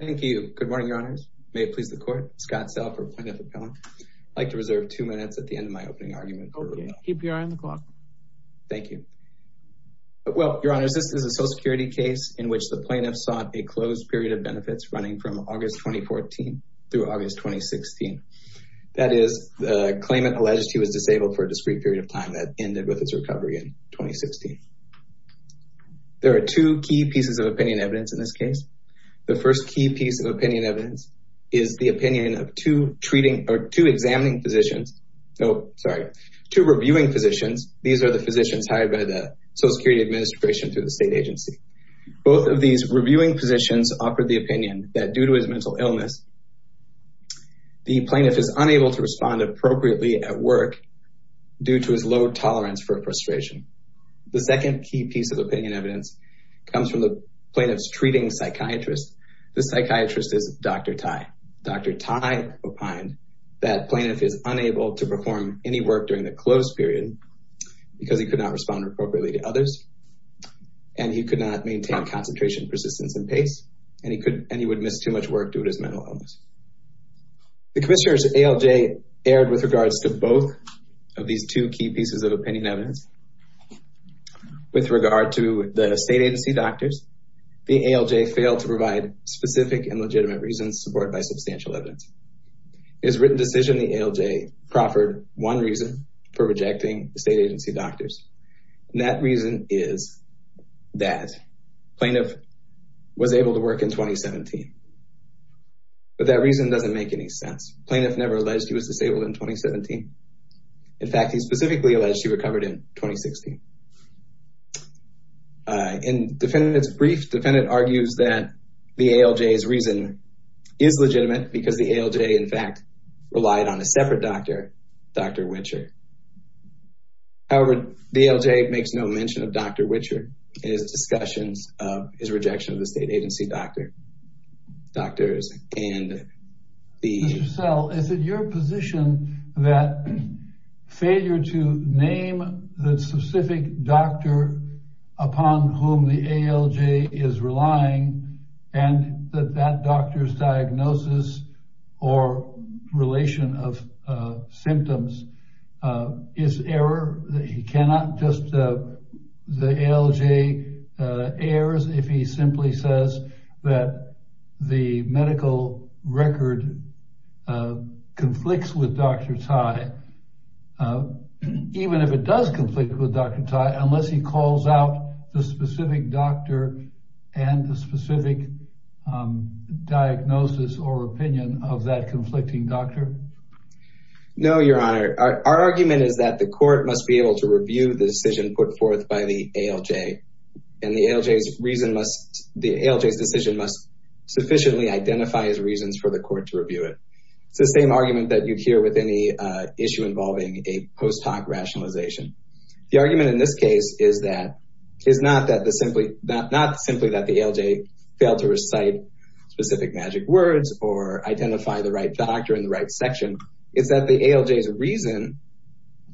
Thank you. Good morning, Your Honors. May it please the Court. Scott Sell for Plaintiff Appellant. I'd like to reserve two minutes at the end of my opening argument. Okay, keep your eye on the clock. Thank you. Well, Your Honors, this is a Social Security case in which the plaintiff sought a closed period of benefits running from August 2014 through August 2016. That is, the claimant alleged he was disabled for a discrete period of time that ended with his recovery in 2016. There are two key pieces of opinion evidence in this case. The first key piece of opinion evidence is the opinion of two treating or two examining physicians. No, sorry, two reviewing physicians. These are the physicians hired by the Social Security Administration through the state agency. Both of these reviewing physicians offered the opinion that due to his mental illness, the plaintiff is unable to respond appropriately at work due to his low tolerance for frustration. The second key piece of opinion evidence comes from the plaintiff's treating psychiatrist. The psychiatrist is Dr. Tai. Dr. Tai opined that the plaintiff is unable to perform any work during the closed period because he could not respond appropriately to others, and he could not maintain concentration, persistence, and pace, and he would miss too much work due to his mental illness. The Commissioner's ALJ erred with regards to both of these two pieces of opinion evidence. With regard to the state agency doctors, the ALJ failed to provide specific and legitimate reasons supported by substantial evidence. His written decision in the ALJ proffered one reason for rejecting the state agency doctors, and that reason is that the plaintiff was able to work in 2017. But that reason doesn't make any In fact, he specifically alleged she recovered in 2016. In the defendant's brief, the defendant argues that the ALJ's reason is legitimate because the ALJ, in fact, relied on a separate doctor, Dr. Wichert. However, the ALJ makes no mention of Dr. Wichert in his discussions of his rejection of the state agency doctors. Dr. Wichert, is it your position that failure to name the specific doctor upon whom the ALJ is relying and that that doctor's diagnosis or relation of symptoms is error? He cannot just the ALJ errors if he simply says that the medical record conflicts with Dr. Tai. Even if it does conflict with Dr. Tai, unless he calls out the specific doctor and the specific diagnosis or opinion of that conflicting doctor? No, your honor. Our argument is that the court must be able to review the decision put forth by the ALJ and the ALJ's reason must, the ALJ's decision must sufficiently identify his reasons for the court to review it. It's the same argument that you hear with any issue involving a post-hoc rationalization. The argument in this case is that, is not that the simply, not simply that the ALJ failed to recite specific magic words or identify the right doctor in the right section, is that the ALJ's reason,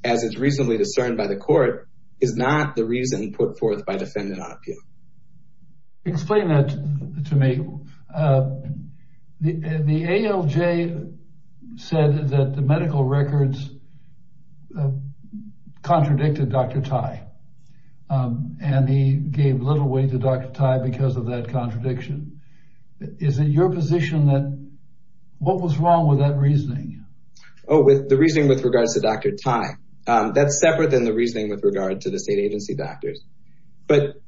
as it's reasonably discerned by the court, is not the reason put forth by defendant on appeal. Explain that to me. The ALJ said that the medical records contradicted Dr. Tai and he gave little weight to Dr. Tai because of that contradiction. Is it your position that, what was wrong with that reasoning? Oh, with the reasoning with regards to Dr. Tai. That's separate than the reasoning with regard to the state agency doctors. But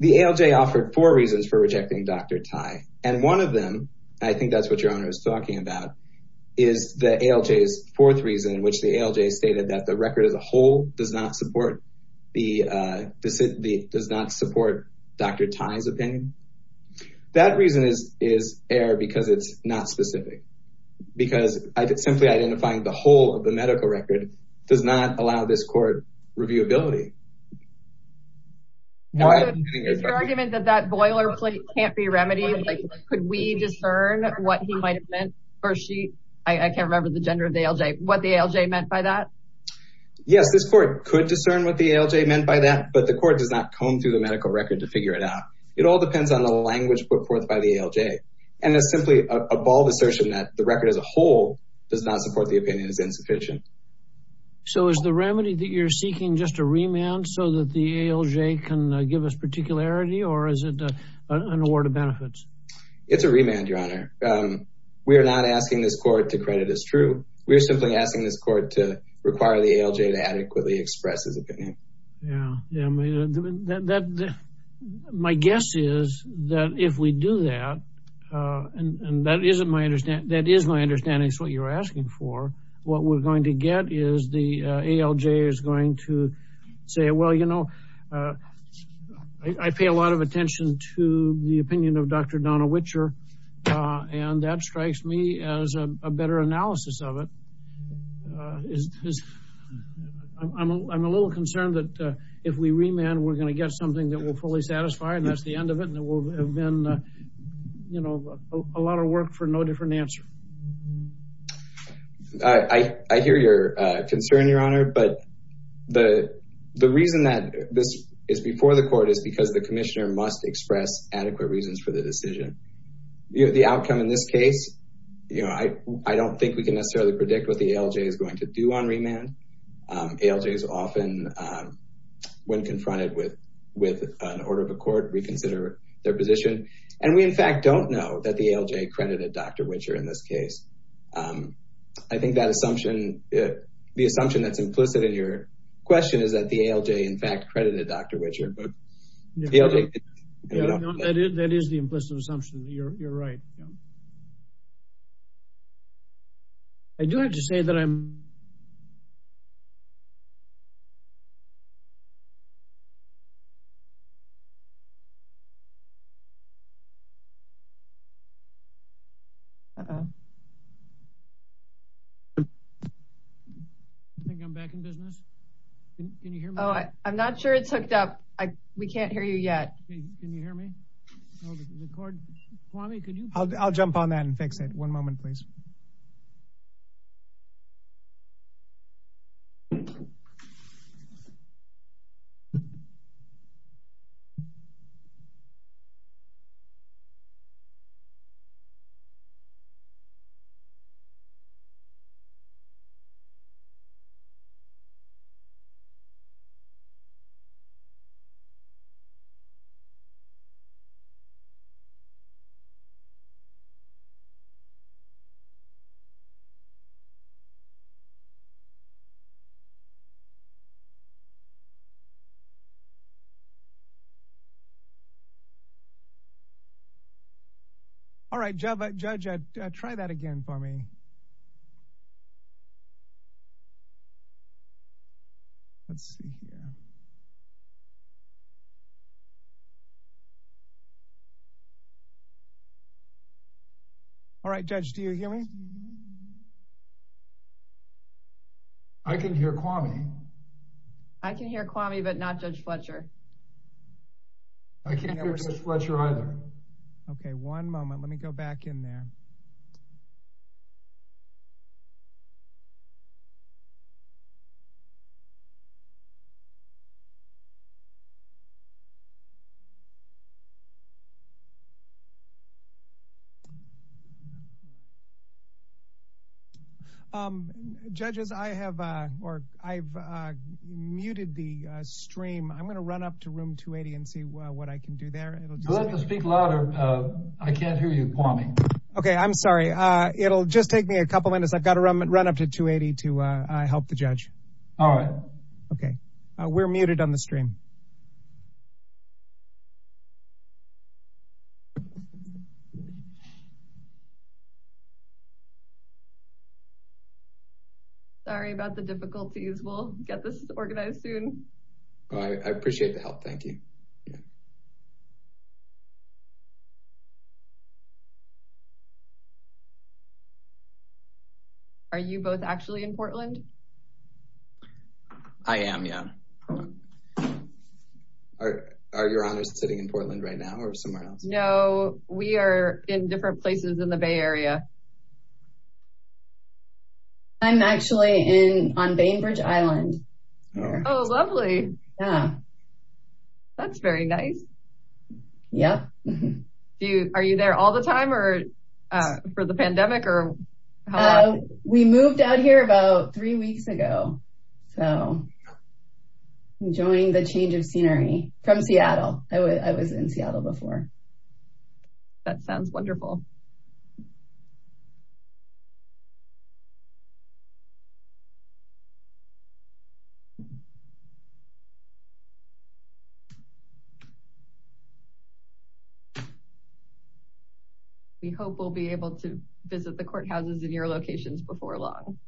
the ALJ offered four reasons for rejecting Dr. Tai. And one of them, I think that's what your honor is talking about, is the ALJ's fourth reason in which the That reason is error because it's not specific. Because simply identifying the whole of the medical record does not allow this court reviewability. Is your argument that that boilerplate can't be remedied? Like, could we discern what he might have meant or she, I can't remember the gender of the ALJ, what the ALJ meant by that? Yes, this court could discern what the ALJ meant by that, but the court does not comb through the medical record to figure it out. It all depends on the language put forth by the ALJ. And it's simply a bold assertion that the record as a whole does not support the opinion is insufficient. So is the remedy that you're seeking just a remand so that the ALJ can give us particularity or is it an award of benefits? It's a remand, your honor. We are not asking this court to credit as true. We're simply asking this court to require the ALJ to adequately express his opinion. Yeah, yeah. My guess is that if we do that, and that isn't my understanding, that is my understanding is what you're asking for. What we're going to get is the ALJ is going to say, well, you know, I pay a lot of attention to the opinion of Dr. Donna Witcher. And that strikes me as a better analysis of it. I'm a little concerned that if we remand, we're going to get something that will fully satisfy and that's the end of it. And it will have been, you know, a lot of work for no different answer. I hear your concern, your honor. But the reason that this is before the court is because the outcome in this case, you know, I don't think we can necessarily predict what the ALJ is going to do on remand. ALJ is often, when confronted with an order of a court, reconsider their position. And we, in fact, don't know that the ALJ credited Dr. Witcher in this case. I think that assumption, the assumption that's implicit in your question is that the ALJ, in fact, credited Dr. Witcher. The ALJ. That is the implicit assumption. You're right. I do have to say that I'm. I think I'm back in business. Can you hear me? Oh, I'm not sure it's hooked up. We can't hear you yet. Can you hear me? Record. I'll jump on that and fix it. One moment, please. All right, judge, try that again for me. Let's see. All right, judge, do you hear me? I can hear Kwame. I can hear Kwame, but not Judge Fletcher. I can't hear Judge Fletcher either. OK, one moment. Let me go back in there. Judges, I have or I've muted the stream. I'm going to run up to room 280 and see what I can do there. You'll have to speak louder. I can't hear you, Kwame. OK, I'm sorry. It'll just take me a couple minutes. I've got to run up to 280 to help the judge. All right. OK, we're muted on the stream. Sorry about the difficulties. We'll get this organized soon. I appreciate the help. Thank you. Are you both actually in Portland? I am, yeah. Are your honors sitting in Portland right now or somewhere else? No, we are in different places in the Bay Area. I'm actually on Bainbridge Island. Oh, lovely. That's very nice. Yeah. Are you there all the time or for the pandemic? We moved out here about three weeks ago. So enjoying the change of scenery from Seattle. I was in Seattle before. That sounds wonderful. We hope we'll be able to visit the courthouses in your locations before long.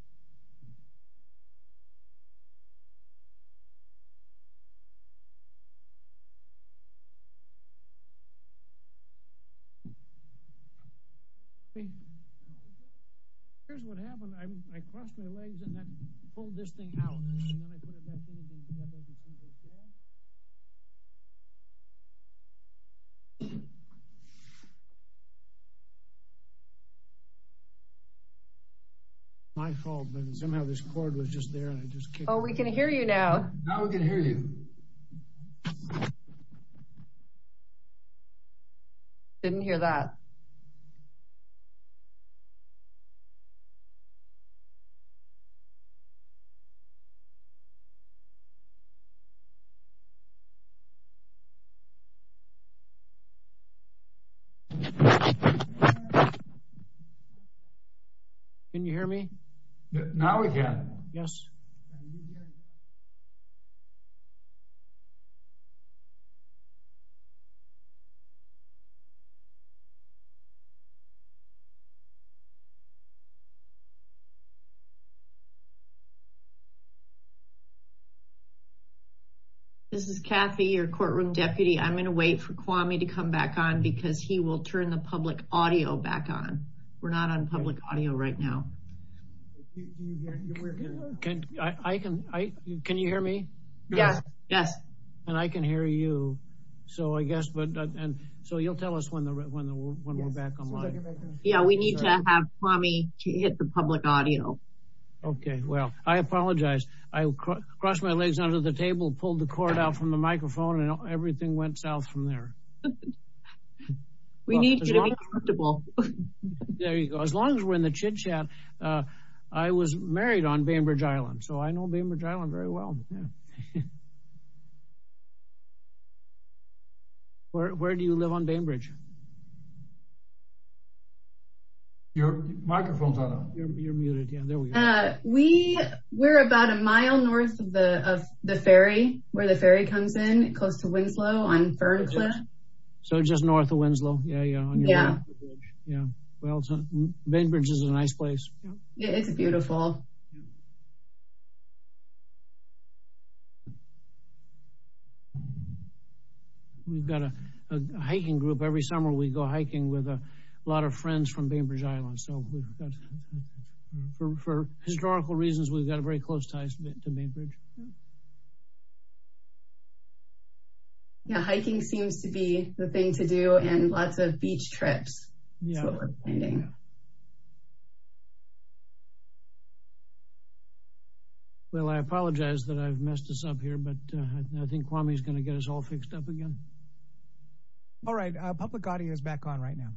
My fault. Somehow this cord was just there and I just kicked it. Oh, we can hear you now. Now we can hear you. Didn't hear that. Can you hear me? Now we can. Yes. This is Kathy, your courtroom deputy. I'm going to wait for Kwame to come back on because he will turn the public audio back on. We're not on public audio right now. Can you hear me? Yes. Yes. And I can hear you. So you'll tell us when we're back online. Yeah, we need to have Kwame to hit the public audio. Okay, well, I apologize. I crossed my legs under the table, pulled the cord out from the microphone and everything went south from there. We need you to be comfortable. There you go. As long as we're in the chit chat. I was married on Bainbridge Island. So I know Bainbridge Island very well. Where do you live on Bainbridge? Your microphone's on. You're muted. Yeah, there we go. We're about a mile north of the ferry, where the ferry comes in, close to Winslow on Ferncliff. So just north of Winslow? Yeah. Yeah, well, Bainbridge is a nice place. It's beautiful. We've got a hiking group. Every summer we go hiking with a lot of friends from Bainbridge Island. So for historical reasons, we've got very close ties to Bainbridge. Yeah, hiking seems to be the thing to do and lots of beach trips. Well, I apologize that I've messed us up here, but I think Kwame is going to get us all fixed up again. All right, public audio is back on right now.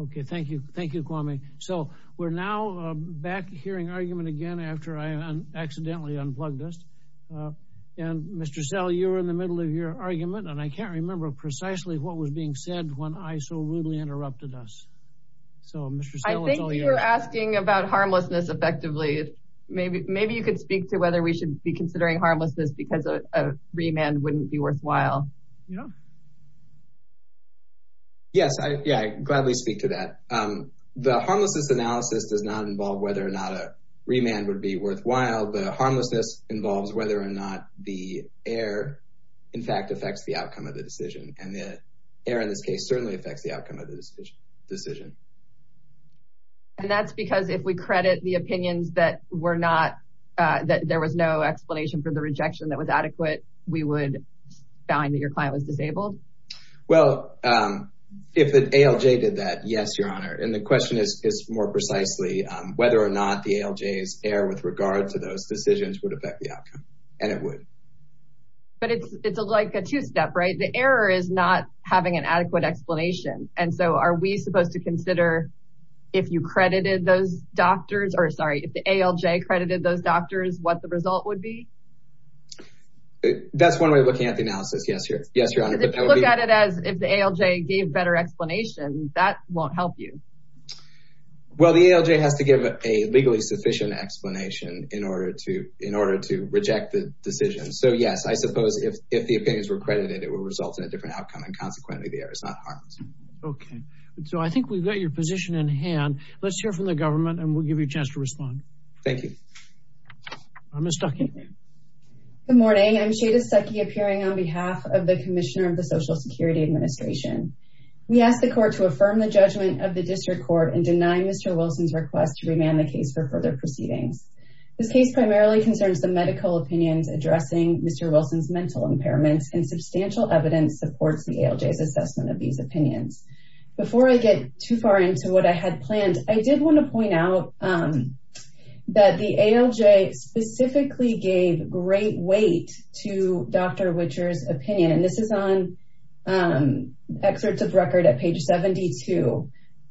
Okay, thank you. Thank you, Kwame. So we're now back hearing argument again after I accidentally unplugged us. And Mr. Sell, you were in the middle of your argument, and I can't remember precisely what was being said when I so rudely interrupted us. So Mr. Sell, it's all yours. I think you were asking about harmlessness effectively. Maybe you could speak to whether we should be considering harmlessness because a remand wouldn't be worthwhile. Yeah. Yes, I gladly speak to that. The harmlessness analysis does not involve whether or not a remand would be worthwhile. The harmlessness involves whether or not the error in fact affects the outcome of the decision. And the error in this case certainly affects the outcome of the decision. And that's because if we credit the opinions that were not, that there was no explanation for the rejection that was adequate, we would find that your client was disabled. Well, if the ALJ did that, yes, Your Honor. And the question is more precisely whether or not the ALJ's error with regard to those decisions would affect the outcome. And it would. But it's like a two-step, right? The error is not having an adequate explanation. And so are we supposed to consider if you credited those doctors, or sorry, if the ALJ credited those doctors, what the result would be? That's one way of looking at the analysis. Yes, Your Honor. If you look at it as if the ALJ gave better explanation, that won't help you. Well, the ALJ has to give a legally sufficient explanation in order to reject the decision. So yes, I suppose if the opinions were credited, it would result in a different outcome. And consequently, the error is not harmed. Okay. So I think we've got your position in hand. Let's hear from the government and we'll give you a chance to respond. Thank you. Ms. Stuckey. Good morning. I'm Shada Stuckey appearing on behalf of the Commissioner of the Social Security Administration. We ask the court to affirm the judgment of the district court and deny Mr. Wilson's request to remand the case for further proceedings. This case primarily concerns the medical opinions addressing Mr. Wilson's mental impairments, and substantial evidence supports the ALJ's assessment of these opinions. Before I get too far into what I had planned, I did want to point out that the ALJ specifically gave great weight to Dr. Whitcher's opinion. And this is on excerpts of record at page 72.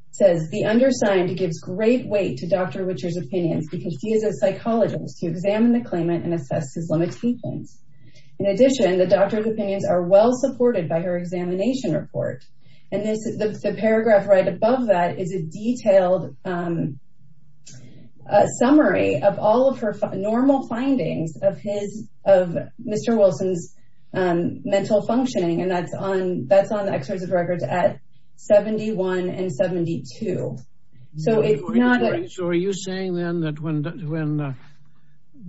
It says, the undersigned gives great weight to Dr. Whitcher's opinions because he is a psychologist who examined the claimant and assessed his limitations. In addition, the doctor's opinions are well supported by her examination report. And the paragraph right above that is a detailed summary of all of her normal findings of Mr. Wilson's mental functioning. And that's on the excerpts of records at 71 and 72. So are you saying then that when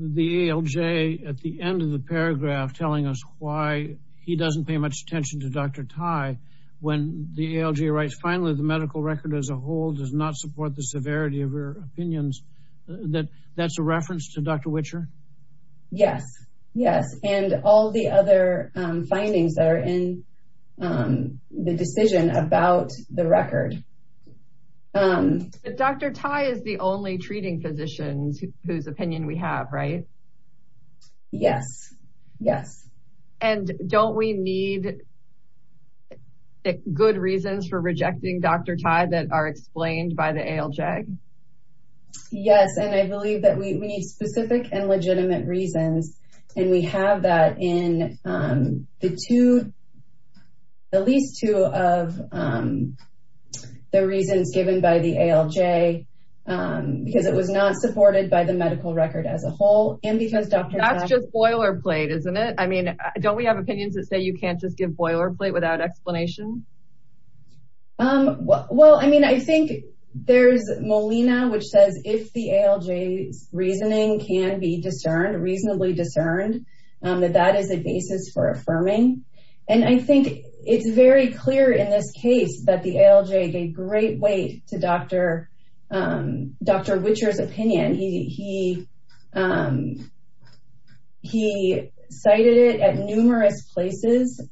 the ALJ at the end of the paragraph telling us why he doesn't pay much attention to Dr. Tai, when the ALJ writes finally, the medical record as a whole does not support the severity of her opinions, that that's a reference to Dr. Whitcher? Yes, yes. And all the other findings that are in the decision about the record. But Dr. Tai is the only treating physician whose opinion we have, right? Yes, yes. And don't we need good reasons for rejecting Dr. Tai that are explained by the ALJ? Yes. And I believe that we need specific and legitimate reasons. And we have that in the two, at least two of the reasons given by the ALJ, because it was not supported by the medical record as a whole. And because Dr. Tai- That's just boilerplate, isn't it? Don't we have opinions that say you can't just give boilerplate without explanation? Well, I mean, I think there's Molina, which says if the ALJ's reasoning can be discerned, reasonably discerned, that that is a basis for affirming. And I think it's very clear in this case that the ALJ gave great weight to Dr. Whitcher's opinion. He cited it at numerous places,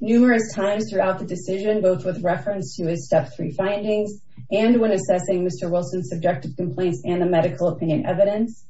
numerous times throughout the decision, both with reference to his step three findings and when assessing Mr. Wilson's subjective complaints and the medical opinion evidence.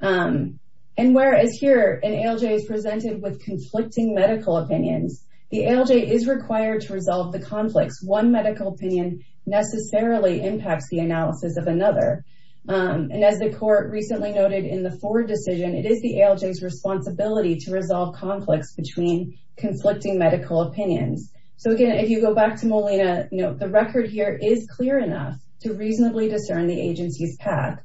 And whereas here an ALJ is presented with conflicting medical opinions, the ALJ is required to resolve the conflicts. One medical opinion necessarily impacts the analysis of another. And as the court recently noted in the Ford decision, it is the ALJ's responsibility to resolve conflicts between conflicting medical opinions. So again, if you go back to Molina, the record here is clear enough to reasonably discern the agency's path.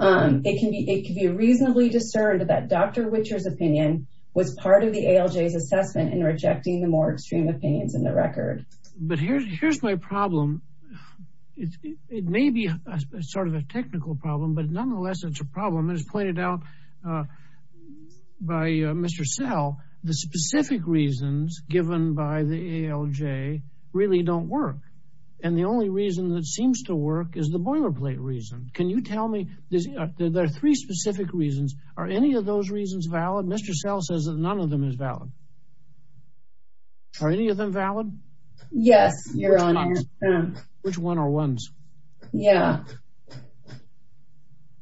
It can be reasonably discerned that Dr. Whitcher's opinion was part of the ALJ's assessment in rejecting the more extreme opinions in the record. But here's my problem. It may be sort of a technical problem, but nonetheless, it's a problem as pointed out by Mr. Sell. The specific reasons given by the ALJ really don't work. And the only reason that seems to work is the boilerplate reason. Can you tell me, there are three specific reasons. Are any of those reasons valid? Mr. Sell says that none of them is valid. Are any of them valid? Yes, your honor. Which one are ones? Yeah.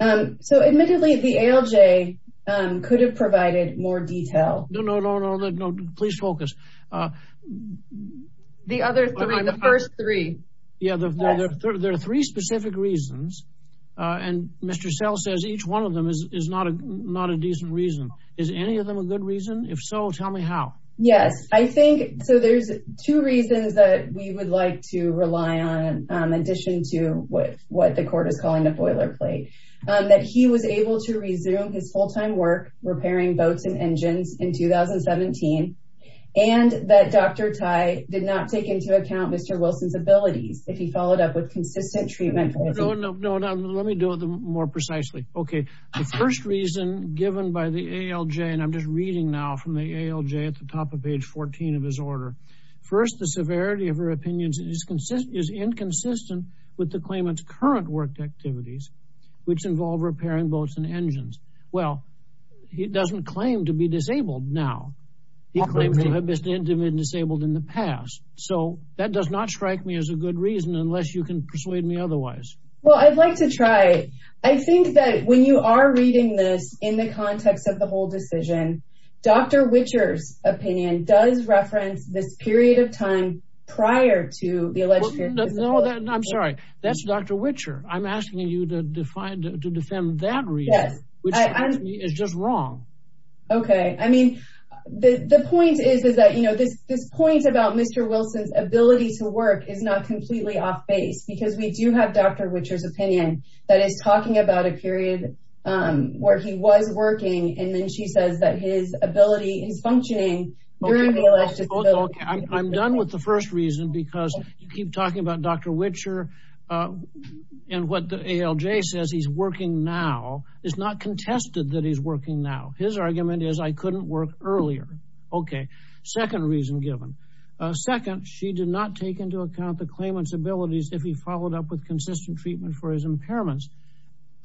So admittedly, the ALJ could have provided more detail. No, no, no, no, no, no. Please focus. The other three, the first three. Yeah, there are three specific reasons. And Mr. Sell says each one of them is not a decent reason. Is any of them a good reason? If so, tell me how. Yes, I think so. There's two reasons that we would like to rely on, in addition to what the court is calling a boilerplate, that he was able to resume his full-time work repairing boats and engines in 2017, and that Dr. Tai did not take into account Mr. Wilson's abilities if he followed up with consistent treatment. No, no, no, no. Let me do it more precisely. Okay, the first reason given by the ALJ, and I'm just reading now from the ALJ at the top of page 14 of his order, first, the severity of her opinions is inconsistent with the claimant's current work activities, which involve repairing boats and engines. Well, he doesn't claim to be disabled now. He claims to have been disabled in the past. So that does not strike me as a good reason, unless you can persuade me otherwise. Well, I'd like to try. I think that when you are reading this in the context of the whole decision, Dr. Wilson's opinion does reference this period of time prior to the alleged fear of disability. No, I'm sorry. That's Dr. Wicher. I'm asking you to defend that reason, which to me is just wrong. Okay. I mean, the point is that this point about Mr. Wilson's ability to work is not completely off-base, because we do have Dr. Wicher's opinion that is talking about a period where he was working. And then she says that his ability is functioning during the alleged disability. I'm done with the first reason, because you keep talking about Dr. Wicher and what the ALJ says he's working now. It's not contested that he's working now. His argument is I couldn't work earlier. Okay. Second reason given. Second, she did not take into account the claimant's abilities if he followed up with consistent treatment for his impairments.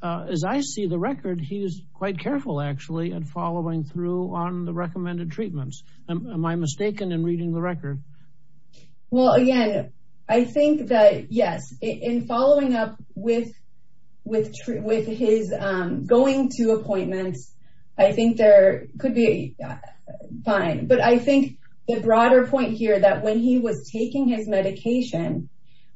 As I see the record, he's quite careful, actually, at following through on the recommended treatments. Am I mistaken in reading the record? Well, again, I think that, yes, in following up with his going to appointments, I think there could be fine. But I think the broader point here that when he was taking his medication,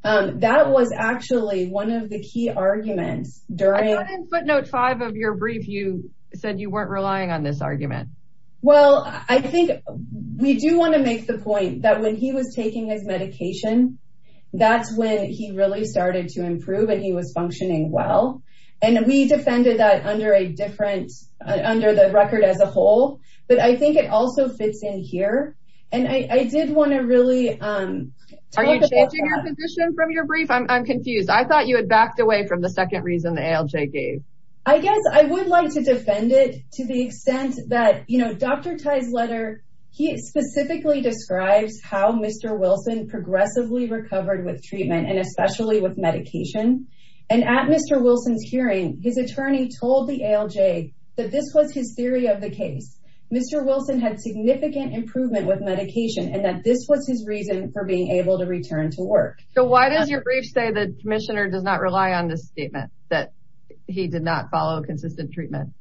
that was actually one of the key arguments during- I thought in footnote five of your brief, you said you weren't relying on this argument. Well, I think we do want to make the point that when he was taking his medication, that's when he really started to improve and he was functioning well. And we defended that under the record as a whole. But I think it also fits in here. And I did want to really- Are you changing your position from your brief? I'm confused. I thought you had backed away from the second reason the ALJ gave. I guess I would like to defend it to the extent that Dr. Tai's letter, he specifically describes how Mr. Wilson progressively recovered with treatment and especially with medication. And at Mr. Wilson's hearing, his attorney told the ALJ that this was his theory of the case. Mr. Wilson had significant improvement with medication and that this was his reason for being able to return to work. So why does your brief say the commissioner does not rely on this statement that he did not follow consistent treatment?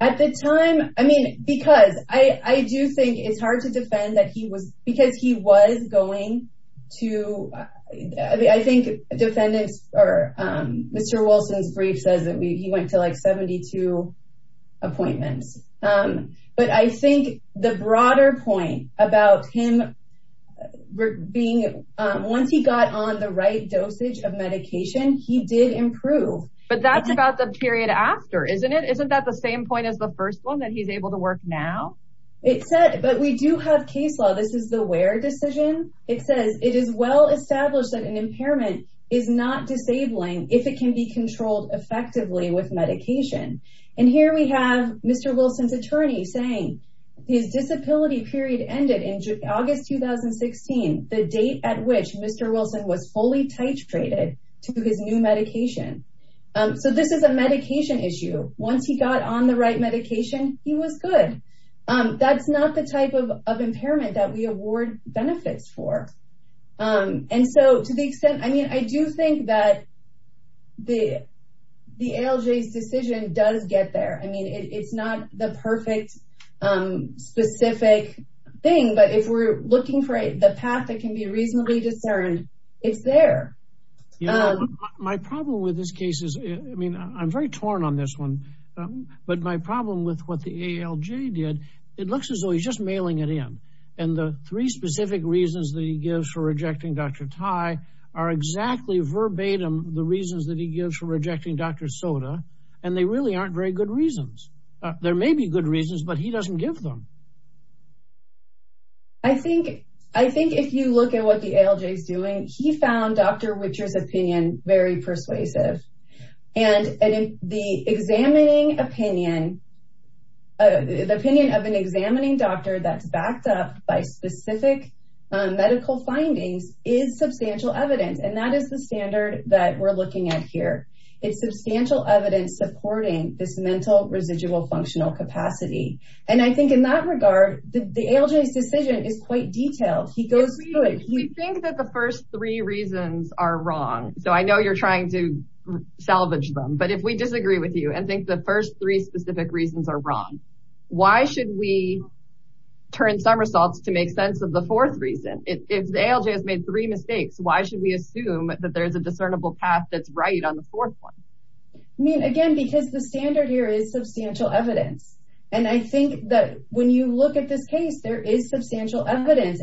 At the time, I mean, because I do think it's hard to defend that he was- because he was going to- I think defendants or Mr. Wilson's brief says that he went to like 72 appointments. But I think the broader point about him being- once he got on the right dosage of medication, he did improve. But that's about the period after, isn't it? Isn't that the same point as the first one that he's able to work now? It said- but we do have case law. This is the Ware decision. It says, it is well established that an impairment is not disabling if it can be controlled effectively with medication. And here we have Mr. Wilson's attorney saying his disability period ended in August 2016, the date at which Mr. Wilson was fully titrated to his new medication. So this is a medication issue. Once he got on the right medication, he was good. That's not the type of impairment that we award benefits for. And so to the extent- I mean, I do think that the ALJ's decision does get there. I mean, it's not the perfect specific thing. But if we're looking for the path that can be reasonably discerned, it's there. My problem with this case is- I mean, I'm very torn on this one. But my problem with what the ALJ did, it looks as though he's just mailing it in. And the three specific reasons that he gives for rejecting Dr. Tai are exactly verbatim the reasons that he gives for rejecting Dr. Sota. And they really aren't very good reasons. There may be good reasons, but he doesn't give them. I think if you look at what the ALJ is doing, he found Dr. Whittier's opinion very persuasive. And the opinion of an examining doctor that's backed up by specific medical findings is substantial evidence. And that is the standard that we're looking at here. It's substantial evidence supporting this mental residual functional capacity. And I think in that regard, the ALJ's decision is quite detailed. He goes through it. We think that the first three reasons are wrong. So I know you're trying to salvage them. But if we disagree with you and think the first three specific reasons are wrong, why should we turn somersaults to make sense of the fourth reason? If the ALJ has made three mistakes, why should we assume that there's a discernible path that's right on the fourth one? I mean, again, because the standard here is substantial evidence. And I think that when you look at this case, there is substantial evidence.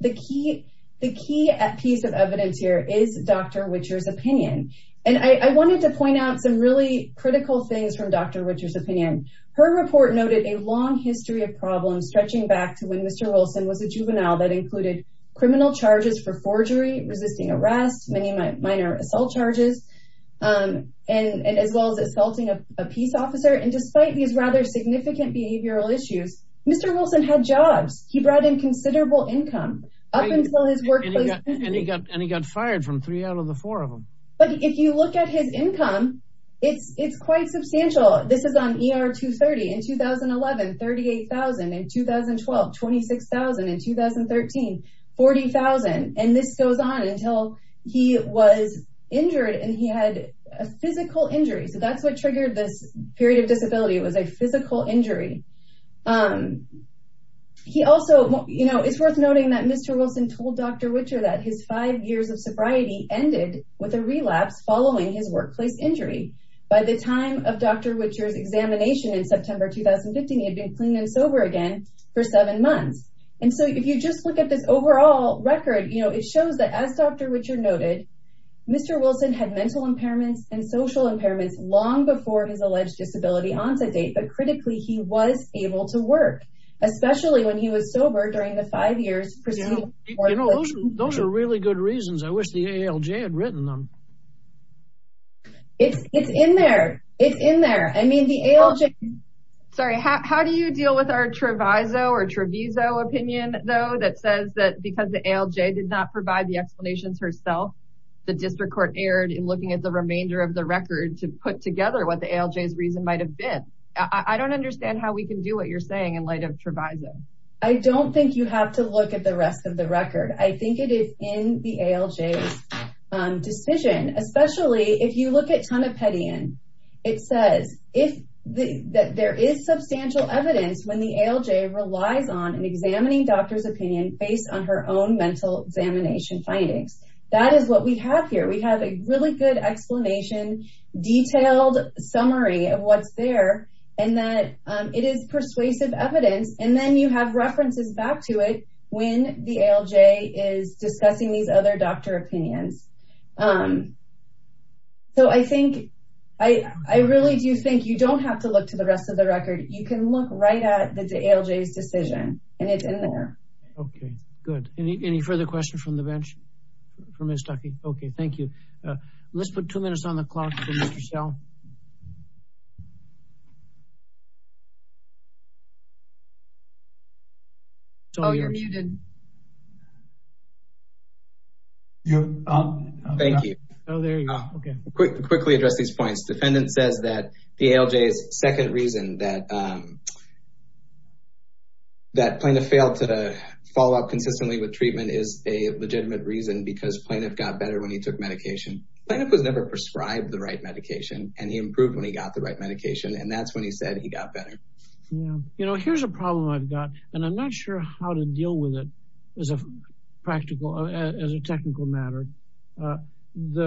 The key piece of evidence here is Dr. Whittier's opinion. And I wanted to point out some really critical things from Dr. Whittier's opinion. Her report noted a long history of problems stretching back to when Mr. Wilson was a juvenile that included criminal charges for forgery, resisting arrest, many minor assault charges, and as well as assaulting a peace officer. And despite these rather significant behavioral issues, Mr. Wilson had jobs. He brought in considerable income up until his workplace. And he got fired from three out of the four of them. But if you look at his income, it's quite substantial. This is on ER 230 in 2011, 38,000 in 2012, 26,000 in 2013, 40,000. And this goes on until he was injured and he had a physical injury. So that's what triggered this period of disability. It was a physical injury. It's worth noting that Mr. Wilson told Dr. Whittier that his five years of sobriety ended with a relapse following his workplace injury. By the time of Dr. Whittier's examination in September 2015, he had been clean and sober again for seven months. And so if you just look at this overall record, it shows that as Dr. Whittier noted, Mr. Wilson had mental impairments and social impairments long before his alleged disability onset date. But critically, he was able to work, especially when he was sober during the five years. Those are really good reasons. I wish the ALJ had written them. It's in there. It's in there. I mean, the ALJ. Sorry, how do you deal with our Treviso or Treviso opinion, though, that says that because the ALJ did not provide the explanations herself, the district court erred in looking at the remainder of the record to put together what the ALJ's reason might have been. I don't understand how we can do what you're saying in light of Treviso. I don't think you have to look at the rest of the record. I think it is in the ALJ's decision, especially if you look at Tonopetian. It says that there is substantial evidence when the ALJ relies on examining doctor's opinion based on her own mental examination findings. That is what we have here. We have a really good explanation, detailed summary of what's there, and that it is persuasive evidence. And then you have references back to it when the ALJ is discussing these other doctor opinions. So I think I really do think you don't have to look to the rest of the record. You can look right at the ALJ's decision, and it's in there. Okay, good. Any further questions from the bench? I'm just talking. Okay, thank you. Let's put two minutes on the clock for Mr. Schell. Oh, you're muted. Thank you. Oh, there you go. Okay, quickly address these points. Defendant says that the ALJ's second reason that plaintiff failed to follow up consistently with treatment is a legitimate reason because plaintiff got better when he took medication. Plaintiff was never prescribed the right medication, and he improved when he got the right medication. And that's when he said he got better. You know, here's a problem I've got, and I'm not sure how to deal with it as a technical matter. The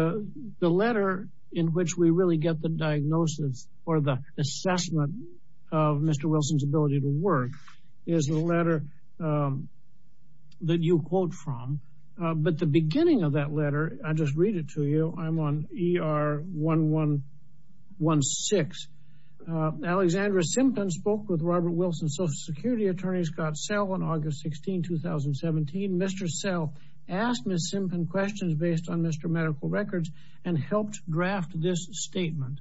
letter in which we really get the diagnosis or the assessment of Mr. Wilson's ability to work is the letter that you quote from. But the beginning of that letter, I'll just read it to you. I'm on ER 1116. Alexandra Simpton spoke with Robert Wilson, Social Security Attorney, Scott Schell, on August 16, 2017. Mr. Schell asked Ms. Simpton questions based on Mr. medical records and helped draft this statement.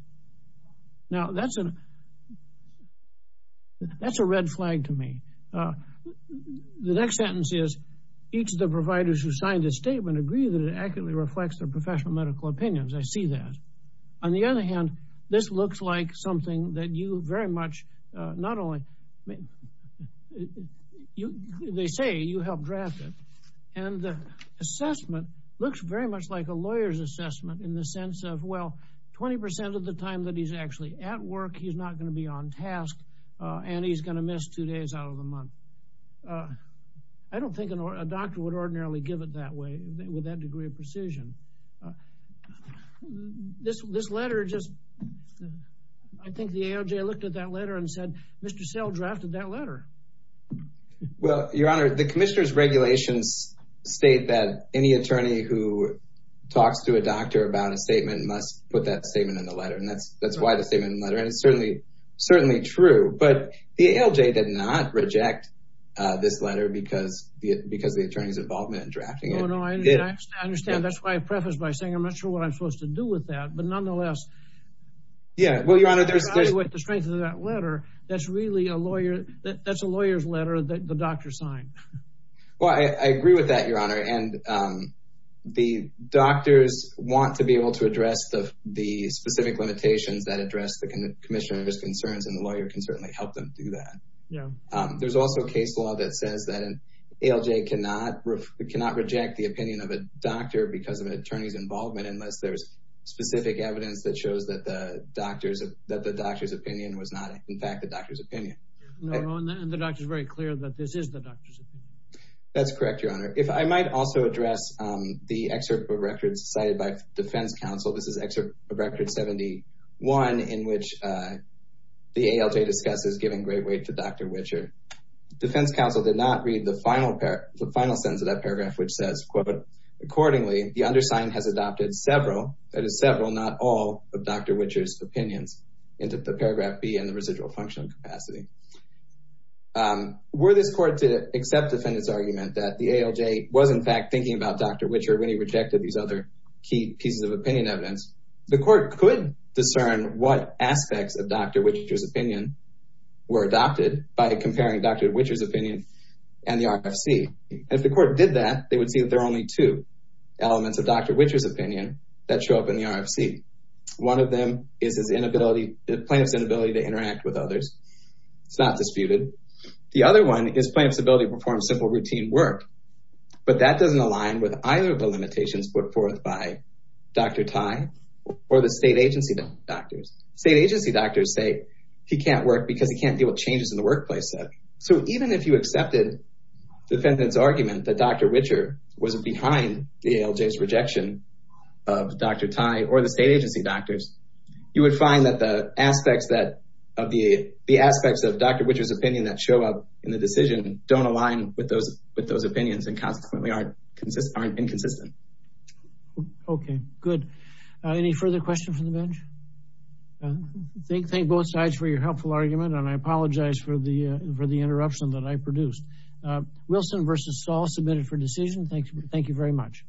Now, that's a red flag to me. The next sentence is, each of the providers who signed the statement agree that it accurately reflects their professional medical opinions. I see that. On the other hand, this looks like something that you very much not only, they say you helped draft it. And the assessment looks very much like a lawyer's assessment in the sense of, well, 20% of the time that he's actually at work, he's not going to be on task and he's going to miss two days out of the month. I don't think a doctor would ordinarily give it that way with that degree of precision. This letter just, I think the AOJ looked at that letter and said, Mr. Schell drafted that letter. Well, Your Honor, the commissioner's regulations state that any attorney who talks to a doctor about a statement must put that statement in the letter. And that's why the statement in the letter. And it's certainly true. But the AOJ did not reject this letter because of the attorney's involvement in drafting it. Oh, no, I understand. That's why I prefaced by saying, I'm not sure what I'm supposed to do with that. But nonetheless. Yeah. Well, Your Honor, there's... With the strength of that letter, that's really a lawyer, that's a lawyer's letter that the doctor signed. Well, I agree with that, Your Honor. And the doctors want to be able to address the specific limitations that address the commissioner's concerns. And the lawyer can certainly help them do that. Yeah. There's also a case law that says that an AOJ cannot reject the opinion of a doctor because of an attorney's involvement unless there's specific evidence that shows that the doctor's opinion was not, in fact, the doctor's opinion. And the doctor is very clear that this is the doctor's opinion. That's correct, Your Honor. If I might also address the excerpt of records cited by defense counsel. This is excerpt of record 71, in which the AOJ discusses giving great weight to Dr. Wichert. Defense counsel did not read the final sentence of that paragraph, which says, quote, accordingly, the undersigned has adopted several, that is several, not all of Dr. Wichert's opinions into the paragraph B and the residual functional capacity. Um, were this court to accept defendant's argument that the AOJ was in fact thinking about Dr. Wichert when he rejected these other key pieces of opinion evidence, the court could discern what aspects of Dr. Wichert's opinion were adopted by comparing Dr. Wichert's opinion and the RFC. If the court did that, they would see that there are only two elements of Dr. Wichert's opinion that show up in the RFC. One of them is his inability, the plaintiff's inability to interact with others. It's not disputed. The other one is plaintiff's ability to perform simple routine work, but that doesn't align with either of the limitations put forth by Dr. Tai or the state agency doctors. State agency doctors say he can't work because he can't deal with changes in the workplace set. So even if you accepted defendant's argument that Dr. Wichert was behind the AOJ's rejection of Dr. Wichert's opinion, you would find that the aspects of Dr. Wichert's opinion that show up in the decision don't align with those opinions and consequently aren't inconsistent. Okay, good. Any further questions from the bench? Thank both sides for your helpful argument, and I apologize for the interruption that I produced. Wilson v. Stahl, submitted for decision. Thank you very much.